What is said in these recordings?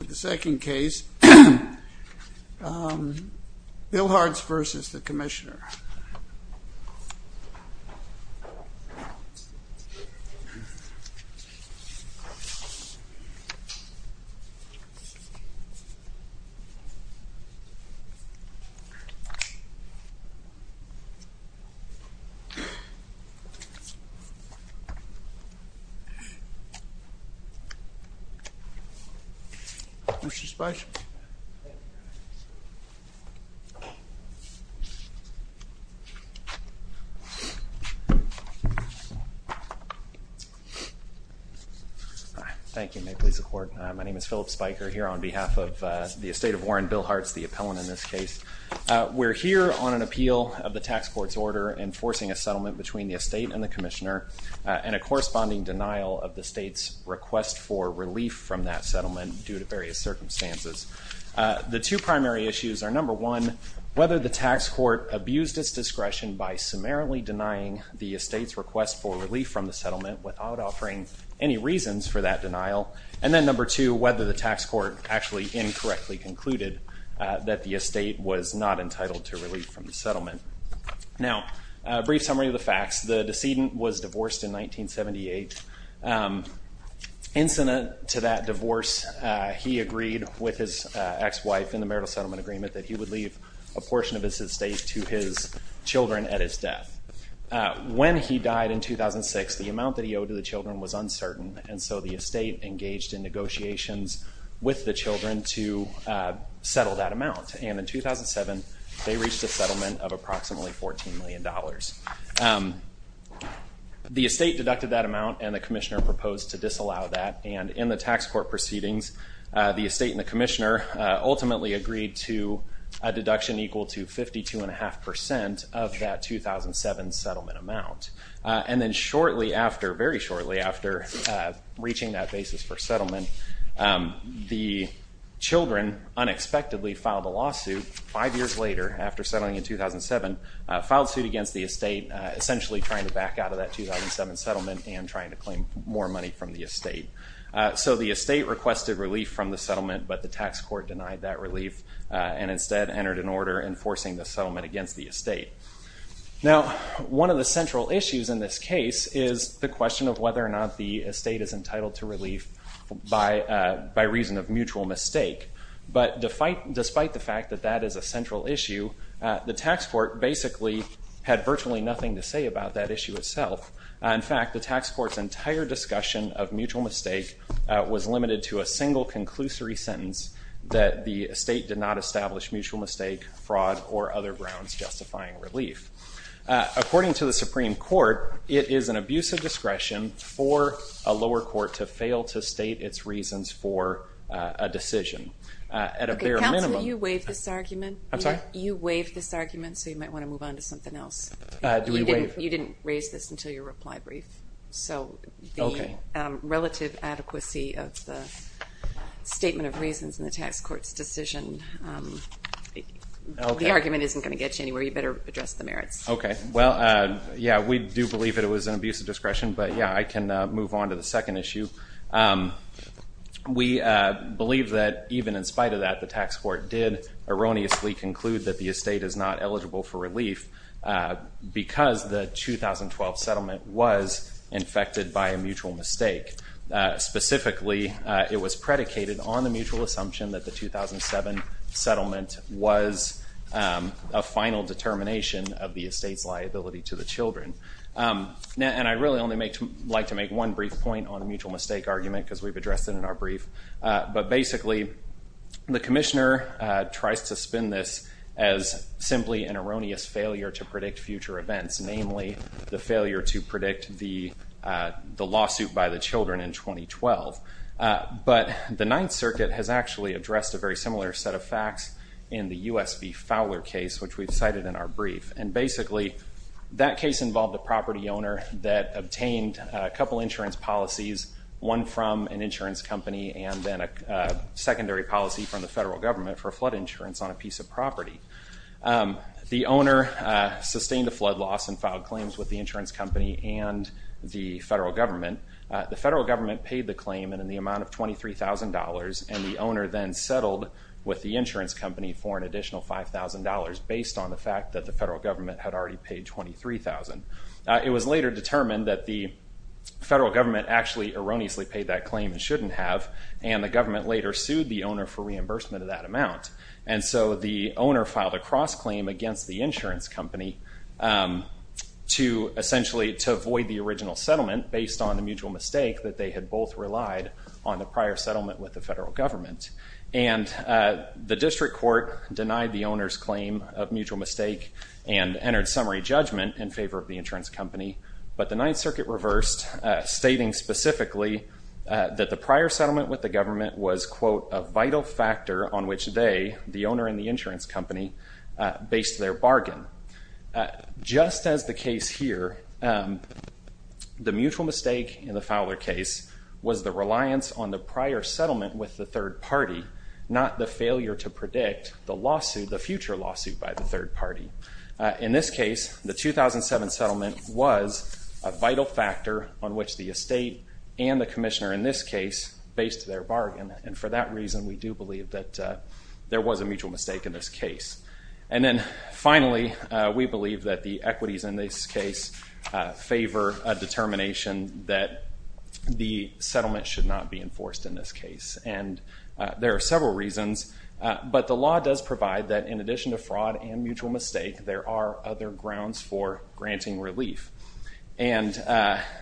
The second case, Billhartz v. The Commissioner. Mr. Spicer. Thank you. May it please the court. My name is Philip Spiker here on behalf of the estate of Warren Billhartz, the appellant in this case. We're here on an appeal of the Tax Court's order enforcing a settlement between the estate and the Commissioner and a corresponding denial of the state's request for relief from that settlement due to various circumstances. The two primary issues are, number one, whether the tax court abused its discretion by summarily denying the estate's request for relief from the settlement without offering any reasons for that denial. And then number two, whether the tax court actually incorrectly concluded that the estate was not entitled to relief from the settlement. Now, a brief summary of the facts. The decedent was divorced in 1978. Incident to that divorce, he agreed with his ex-wife in the marital settlement agreement that he would leave a portion of his estate to his children at his death. When he died in 2006, the amount that he owed to the children was uncertain, and so the estate engaged in negotiations with the children to settle that amount. And in 2007, they reached a settlement of approximately $14 million. The estate deducted that amount and the Commissioner proposed to disallow that, and in the tax court proceedings, the estate and the Commissioner ultimately agreed to a deduction equal to 52.5% of that 2007 settlement amount. And then shortly after, very shortly after, reaching that basis for settlement, the children unexpectedly filed a lawsuit five years later after settling in 2007, filed suit against the estate, essentially trying to back out of that 2007 settlement and trying to claim more money from the estate. So the estate requested relief from the settlement, but the tax court denied that relief and instead entered an order enforcing the settlement against the estate. Now, one of the central issues in this case is the question of whether or not the estate is entitled to relief by reason of mutual mistake. But despite the fact that that is a central issue, the tax court basically had virtually nothing to say about that issue itself. In fact, the tax court's entire discussion of mutual mistake was limited to a single conclusory sentence, that the estate did not establish mutual mistake, fraud, or other grounds justifying relief. According to the Supreme Court, it is an abuse of discretion for a lower court to fail to state its reasons for a decision. At a bare minimum... Okay, Counselor, you waived this argument. I'm sorry? You waived this argument, so you might want to move on to something else. Do we waive? You didn't raise this until your reply brief. So the relative adequacy of the statement of reasons in the tax court's decision, the argument isn't going to get you anywhere. You better address the merits. Okay. Well, yeah, we do believe it was an abuse of discretion, but yeah, I can move on to the second issue. We believe that even in spite of that, the tax court did erroneously conclude that the estate is not eligible for relief because the 2012 settlement was infected by a mutual mistake. Specifically, it was predicated on the mutual assumption that the 2007 settlement was a final determination of the estate's liability to the children. And I'd really only like to make one brief point on the mutual mistake argument, because we've addressed it in our brief. But basically, the Commissioner tries to spin this as simply an erroneous failure to predict future events, namely the failure to predict the lawsuit by the children in 2012. But the Ninth Circuit has actually addressed a very similar set of facts in the U.S. v. Fowler case, which we've cited in our brief. And basically, that case involved a property owner that obtained a couple insurance policies, one from an insurance company and then a secondary policy from the federal government for flood insurance on a piece of property. The owner sustained a flood loss and filed claims with the insurance company and the federal government. The federal government paid the claim in the amount of $23,000 and the owner then settled with the insurance company for an additional $5,000 based on the fact that the federal government had already paid $23,000. It was later determined that the federal government actually erroneously paid that claim and shouldn't have, and the government later sued the owner for reimbursement of that amount. And so the owner filed a cross-claim against the insurance company to essentially avoid the original settlement based on the mutual mistake that they had both relied on the prior settlement with the federal government. And the District Court denied the owner's claim of mutual mistake and entered summary judgment in favor of the insurance company, but the Ninth Circuit reversed, stating specifically that the prior settlement with the government was, quote, a vital factor on which they, the owner and the insurance company, based their bargain. Just as the case here, the mutual mistake in the Fowler case was the reliance on the prior settlement with the third party, not the failure to predict the future lawsuit by the third party. In this case, the 2007 settlement was a vital factor on which the estate and the commissioner in this case based their bargain, and for that reason we do believe that there was a mutual mistake in this case. And then finally, we believe that the equities in this case favor a And there are several reasons, but the law does provide that in addition to fraud and mutual mistake, there are other grounds for granting relief. And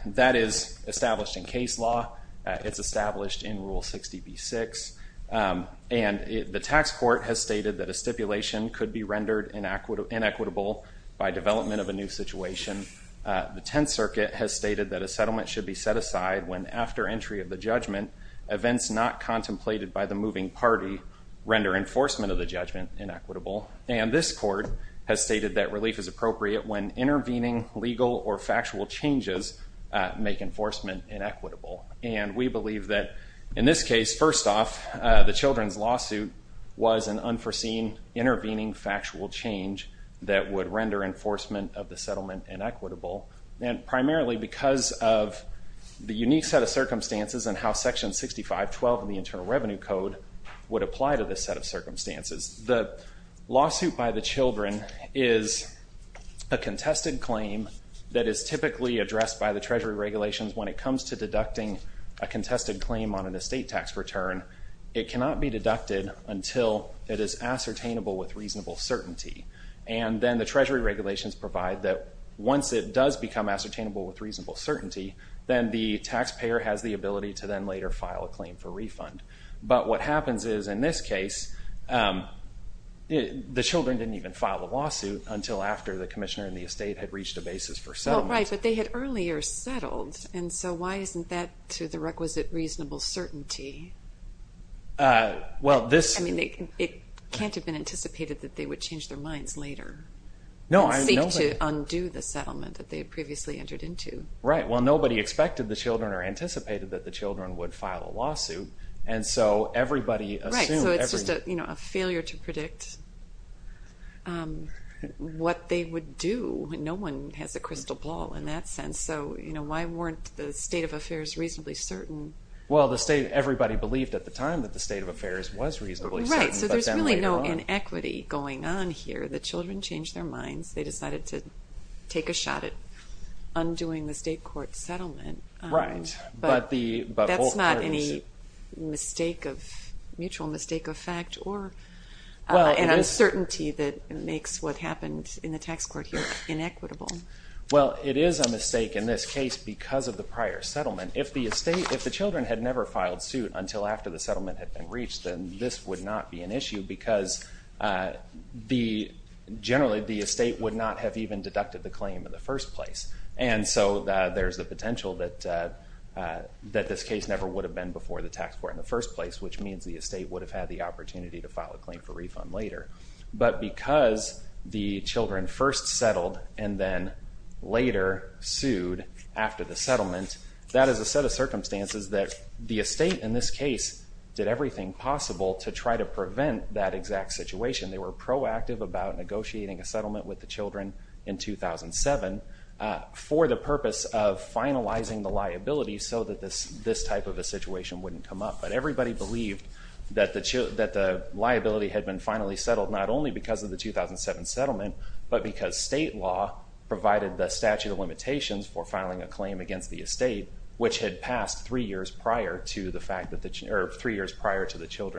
that is established in case law. It's established in Rule 60b-6, and the tax court has stated that a stipulation could be rendered inequitable by development of a new situation. The Tenth Circuit has stated that a settlement should be set aside when, after entry of the judgment, events not contemplated by the moving party render enforcement of the judgment inequitable. And this court has stated that relief is appropriate when intervening legal or factual changes make enforcement inequitable. And we believe that in this case, first off, the children's lawsuit was an unforeseen intervening factual change that would render enforcement of the settlement inequitable, and primarily because of the unique set of circumstances and how Section 65-12 of the Internal Revenue Code would apply to this set of circumstances. The lawsuit by the children is a contested claim that is typically addressed by the Treasury regulations when it comes to deducting a contested claim on an estate tax return. It cannot be deducted until it is ascertainable with reasonable certainty. And then the Treasury regulations provide that once it does become ascertainable with reasonable certainty, then the taxpayer has the ability to then later file a claim for refund. But what happens is, in this case, the children didn't even file a lawsuit until after the commissioner and the estate had reached a basis for settlement. Right, but they had earlier settled, and so why isn't that to the requisite reasonable certainty? Well, this... I mean, it can't have been anticipated that they would change their minds later and seek to undo the settlement that they had previously entered into. Right, well nobody expected the children or anticipated that the children would file a lawsuit, and so everybody assumed... Right, so it's just a failure to predict what they would do. No one has a crystal ball in that sense. So why weren't the state of affairs reasonably certain? Well, everybody believed at the time that the state of affairs was reasonably certain, but then later on... Right, so there's really no inequity going on here. The children changed their minds. They decided to take a shot at undoing the state court settlement. Right, but the... There's no certainty that makes what happened in the tax court here inequitable. Well, it is a mistake in this case because of the prior settlement. If the estate, if the children had never filed suit until after the settlement had been reached, then this would not be an issue, because generally the estate would not have even deducted the claim in the first place. And so there's the potential that this case never would have been before the tax court in the first place, which means the estate would have had the opportunity to file a claim for refund later. But because the children first settled and then later sued after the settlement, that is a set of circumstances that the estate in this case did everything possible to try to prevent that exact situation. They were proactive about negotiating a settlement with the children in 2007 for the purpose of finalizing the liability so that this type of a situation wouldn't come up. But everybody believed that the liability had been finally settled not only because of the 2007 settlement, but because state law provided the statute of limitations for filing a claim against the estate, which had passed three years prior to the fact that the... or three years prior to the thing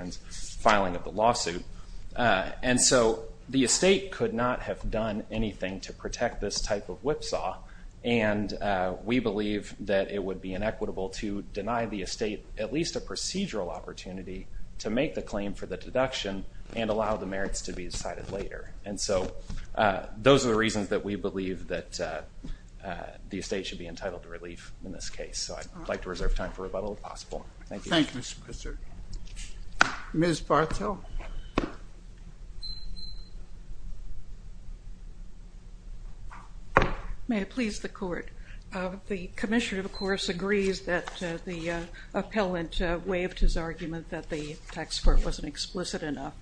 to protect this type of whipsaw, and we believe that it would be inequitable to deny the estate at least a procedural opportunity to make the claim for the deduction and allow the merits to be decided later. And so those are the reasons that we believe that the estate should be entitled to relief in this case. So I'd like to reserve time for rebuttal if possible. Thank you. Thank you, Mr. Pritzker. Ms. Bartel. May it please the Court. The Commissioner, of course, agrees that the appellant waived his argument that the tax court wasn't explicit enough,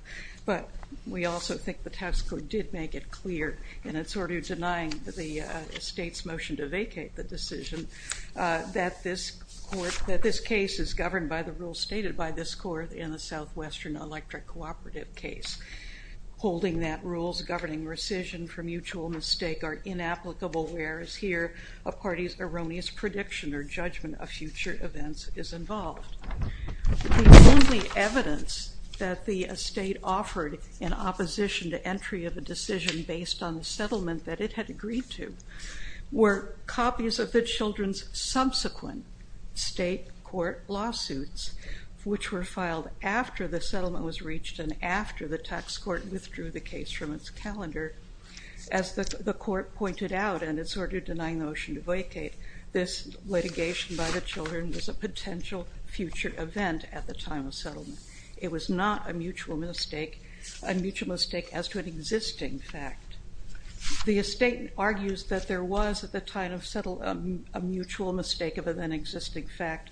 but we also think the tax court did make it clear, and it's sort of denying the estate's motion to vacate the decision, that this case is governed by the rules stated by this Court in the Southwestern Electric Cooperative case. Holding that rules governing rescission for mutual mistake are inapplicable, whereas here a party's erroneous prediction or judgment of future events is involved. The only evidence that the estate offered in opposition to the children's subsequent state court lawsuits, which were filed after the settlement was reached and after the tax court withdrew the case from its calendar, as the Court pointed out, and it's sort of denying the motion to vacate, this litigation by the children was a potential future event at the time of settlement. It was not a mutual mistake, a mutual mistake as to an existing fact. The estate argues that there was at the time of settlement a mutual mistake of an existing fact,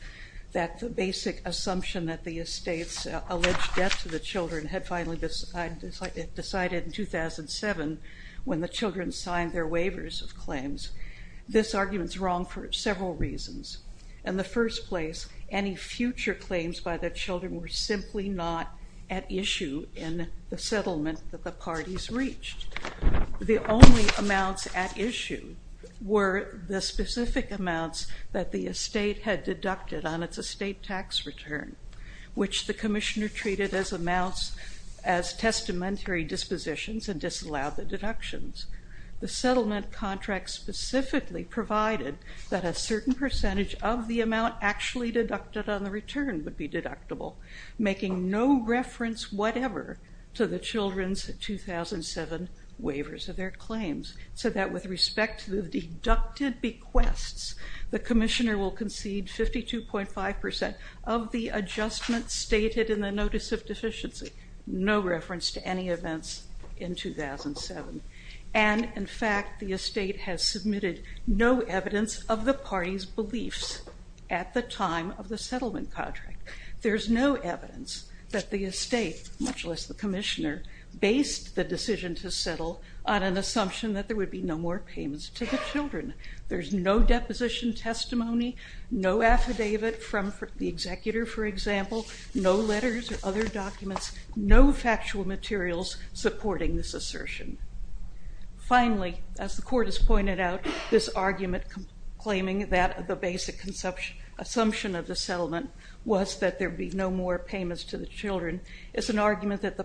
that the basic assumption that the estate's alleged debt to the children had finally decided in 2007 when the children signed their waivers of claims. This argument is wrong for several reasons. In the first place, any future claims by the children were simply not at issue in the settlement that the parties reached. The only amounts at issue were the specific amounts that the estate had deducted on its estate tax return, which the Commissioner treated as amounts, as testamentary dispositions and disallowed the deductions. The settlement contract specifically provided that a certain percentage of the amount actually deducted on the return would be deductible, making no reference whatever to the children's 2007 waivers of their claims, so that with respect to the deducted bequests, the Commissioner will concede 52.5% of the adjustments stated in the Notice of Deficiency, no reference to any events in 2007. And in fact, the estate has submitted no evidence of the parties' beliefs at the time of the settlement contract. There's no evidence that the estate, much less the Commissioner, based the decision to settle on an assumption that there would be no more payments to the children. There's no deposition testimony, no affidavit from the executor, for example, no letters or other documents, no factual materials supporting this assertion. Finally, as the Court has pointed out, this argument claiming that the basic assumption of the settlement was that there would be no more payments to the children is an argument that the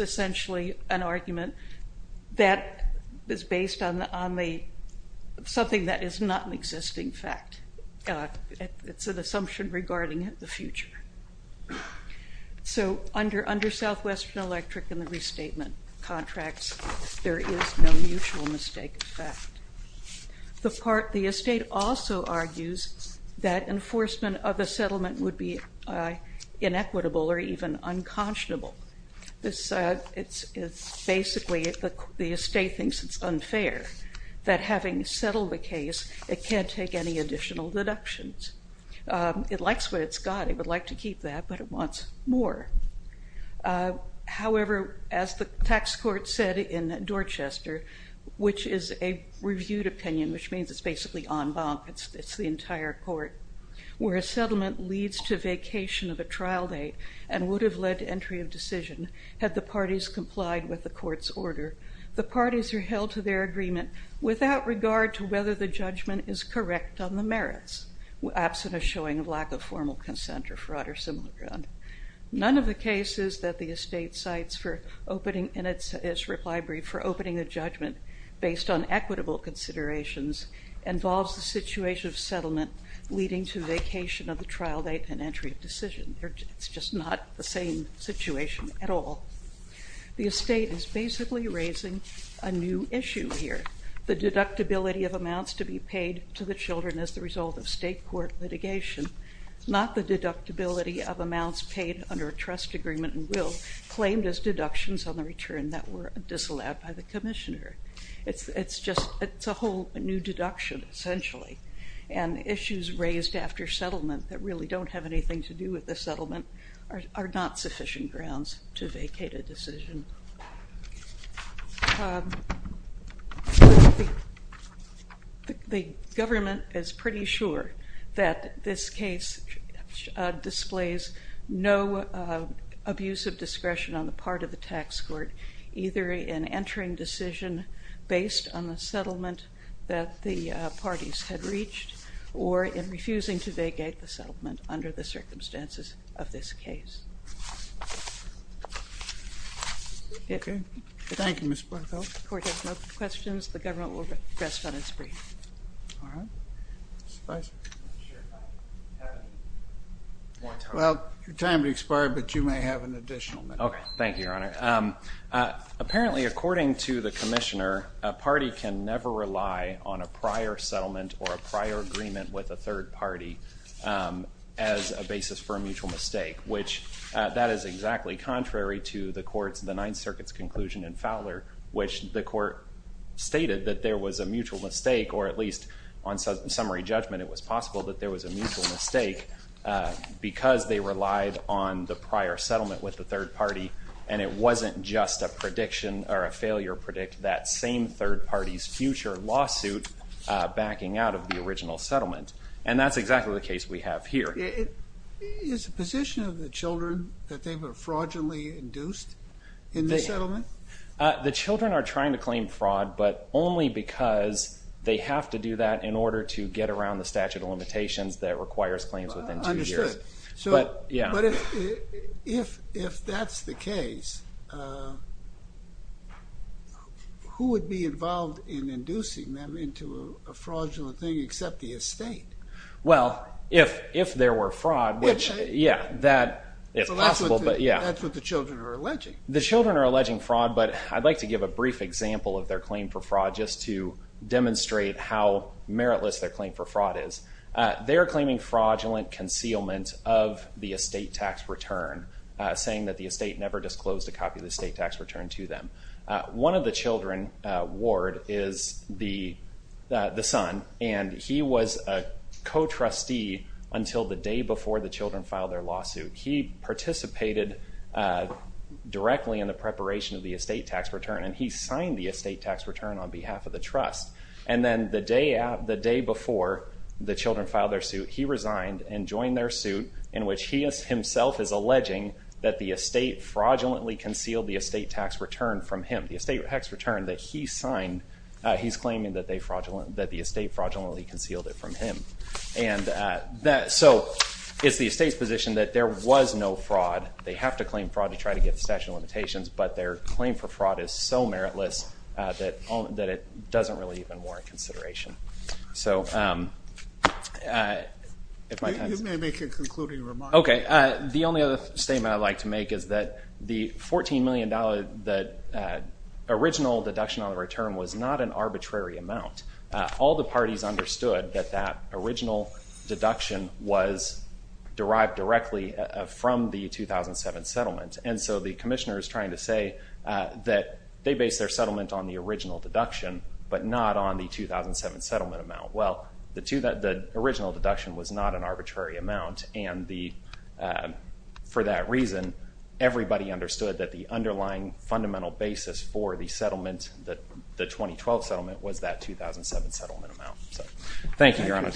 essentially an argument that is based on something that is not an existing fact. It's an assumption regarding the future. So under Southwestern Electric and the restatement contracts, there is no mutual mistake in fact. The estate also argues that enforcement of the settlement would be inequitable or even unconscionable. Basically, the estate thinks it's unfair that having settled the case it can't take any additional deductions. It likes what it's got. It would like to keep that, but it wants more. However, as the tax court said in Dorchester, which is a reviewed opinion, which means it's basically en banc, it's the entire court, where a settlement leads to vacation of a trial date and would have led to entry of decision had the parties complied with the court's order, the parties are held to their agreement without regard to whether the judgment is correct on the merits, absent a showing of lack of formal consent or fraud or similar. None of the cases that the estate cites in its reply brief for opening a judgment based on equitable considerations involves the situation of settlement leading to vacation of the trial date and entry of decision. It's just not the same situation at all. The estate is basically raising a new issue here. The deductibility of amounts to be paid to the children as the result of state court litigation, not the deductibility of amounts paid under a trust agreement and will claimed as deductions on the return that were disallowed by the commissioner. It's a whole new deduction, essentially, and issues raised after settlement that really don't have anything to do with the settlement are not sufficient grounds to vacate a decision. The government is pretty sure that this case displays no abuse of discretion on the part of the tax court, either in entering decision based on the settlement that the parties had reached or in refusing to vacate the settlement under the circumstances of this case. Thank you, Ms. Bartholdt. The court has no questions. The government will rest on its brief. All right. Mr. Feisman. Well, your time to expire, but you may have an additional minute. Okay. Thank you, Your Honor. Apparently, according to the commissioner, a party can never rely on a prior settlement or a prior agreement with a third party as a basis for a mutual mistake, which that is exactly contrary to the court's, the Ninth Circuit's conclusion in Fowler, which the court stated that there was a mutual mistake, or at least on summary judgment, it was possible that there was a mutual mistake because they relied on the prior settlement with the third party and it wasn't just a prediction or a failure predict that same third party's future lawsuit backing out of the original settlement. And that's exactly the case we have here. Is the position of the children that they were fraudulently induced in the settlement? The children are trying to claim fraud, but only because they have to do that in order to get around the statute of limitations that requires claims within two years. If that's the case, who would be involved in inducing them into a fraudulent thing except the estate? Well, if there were fraud, which, yeah, that is possible. That's what the children are alleging. The children are meritless, their claim for fraud is. They're claiming fraudulent concealment of the estate tax return saying that the estate never disclosed a copy of the estate tax return to them. One of the children, Ward, is the son, and he was a co-trustee until the day before the children filed their lawsuit. He participated directly in the the day before the children filed their suit. He resigned and joined their suit in which he himself is alleging that the estate fraudulently concealed the estate tax return from him. The estate tax return that he signed, he's claiming that the estate fraudulently concealed it from him. So it's the estate's position that there was no fraud. They have to claim fraud to try to get the statute of limitations, but their claim for fraud is so meritless that it doesn't really even warrant consideration. You may make a concluding remark. Okay. The only other statement I'd like to make is that the $14 million that original deduction on the return was not an arbitrary amount. All the parties understood that that original deduction was derived directly from the 2007 settlement, and so the Commissioner is trying to say that they based their settlement on the original deduction, but not on the 2007 settlement amount. Well, the original deduction was not an arbitrary amount, and for that reason, everybody understood that the underlying fundamental basis for the settlement, the 2012 settlement, was that 2007 settlement amount. Thank you, Your Honor.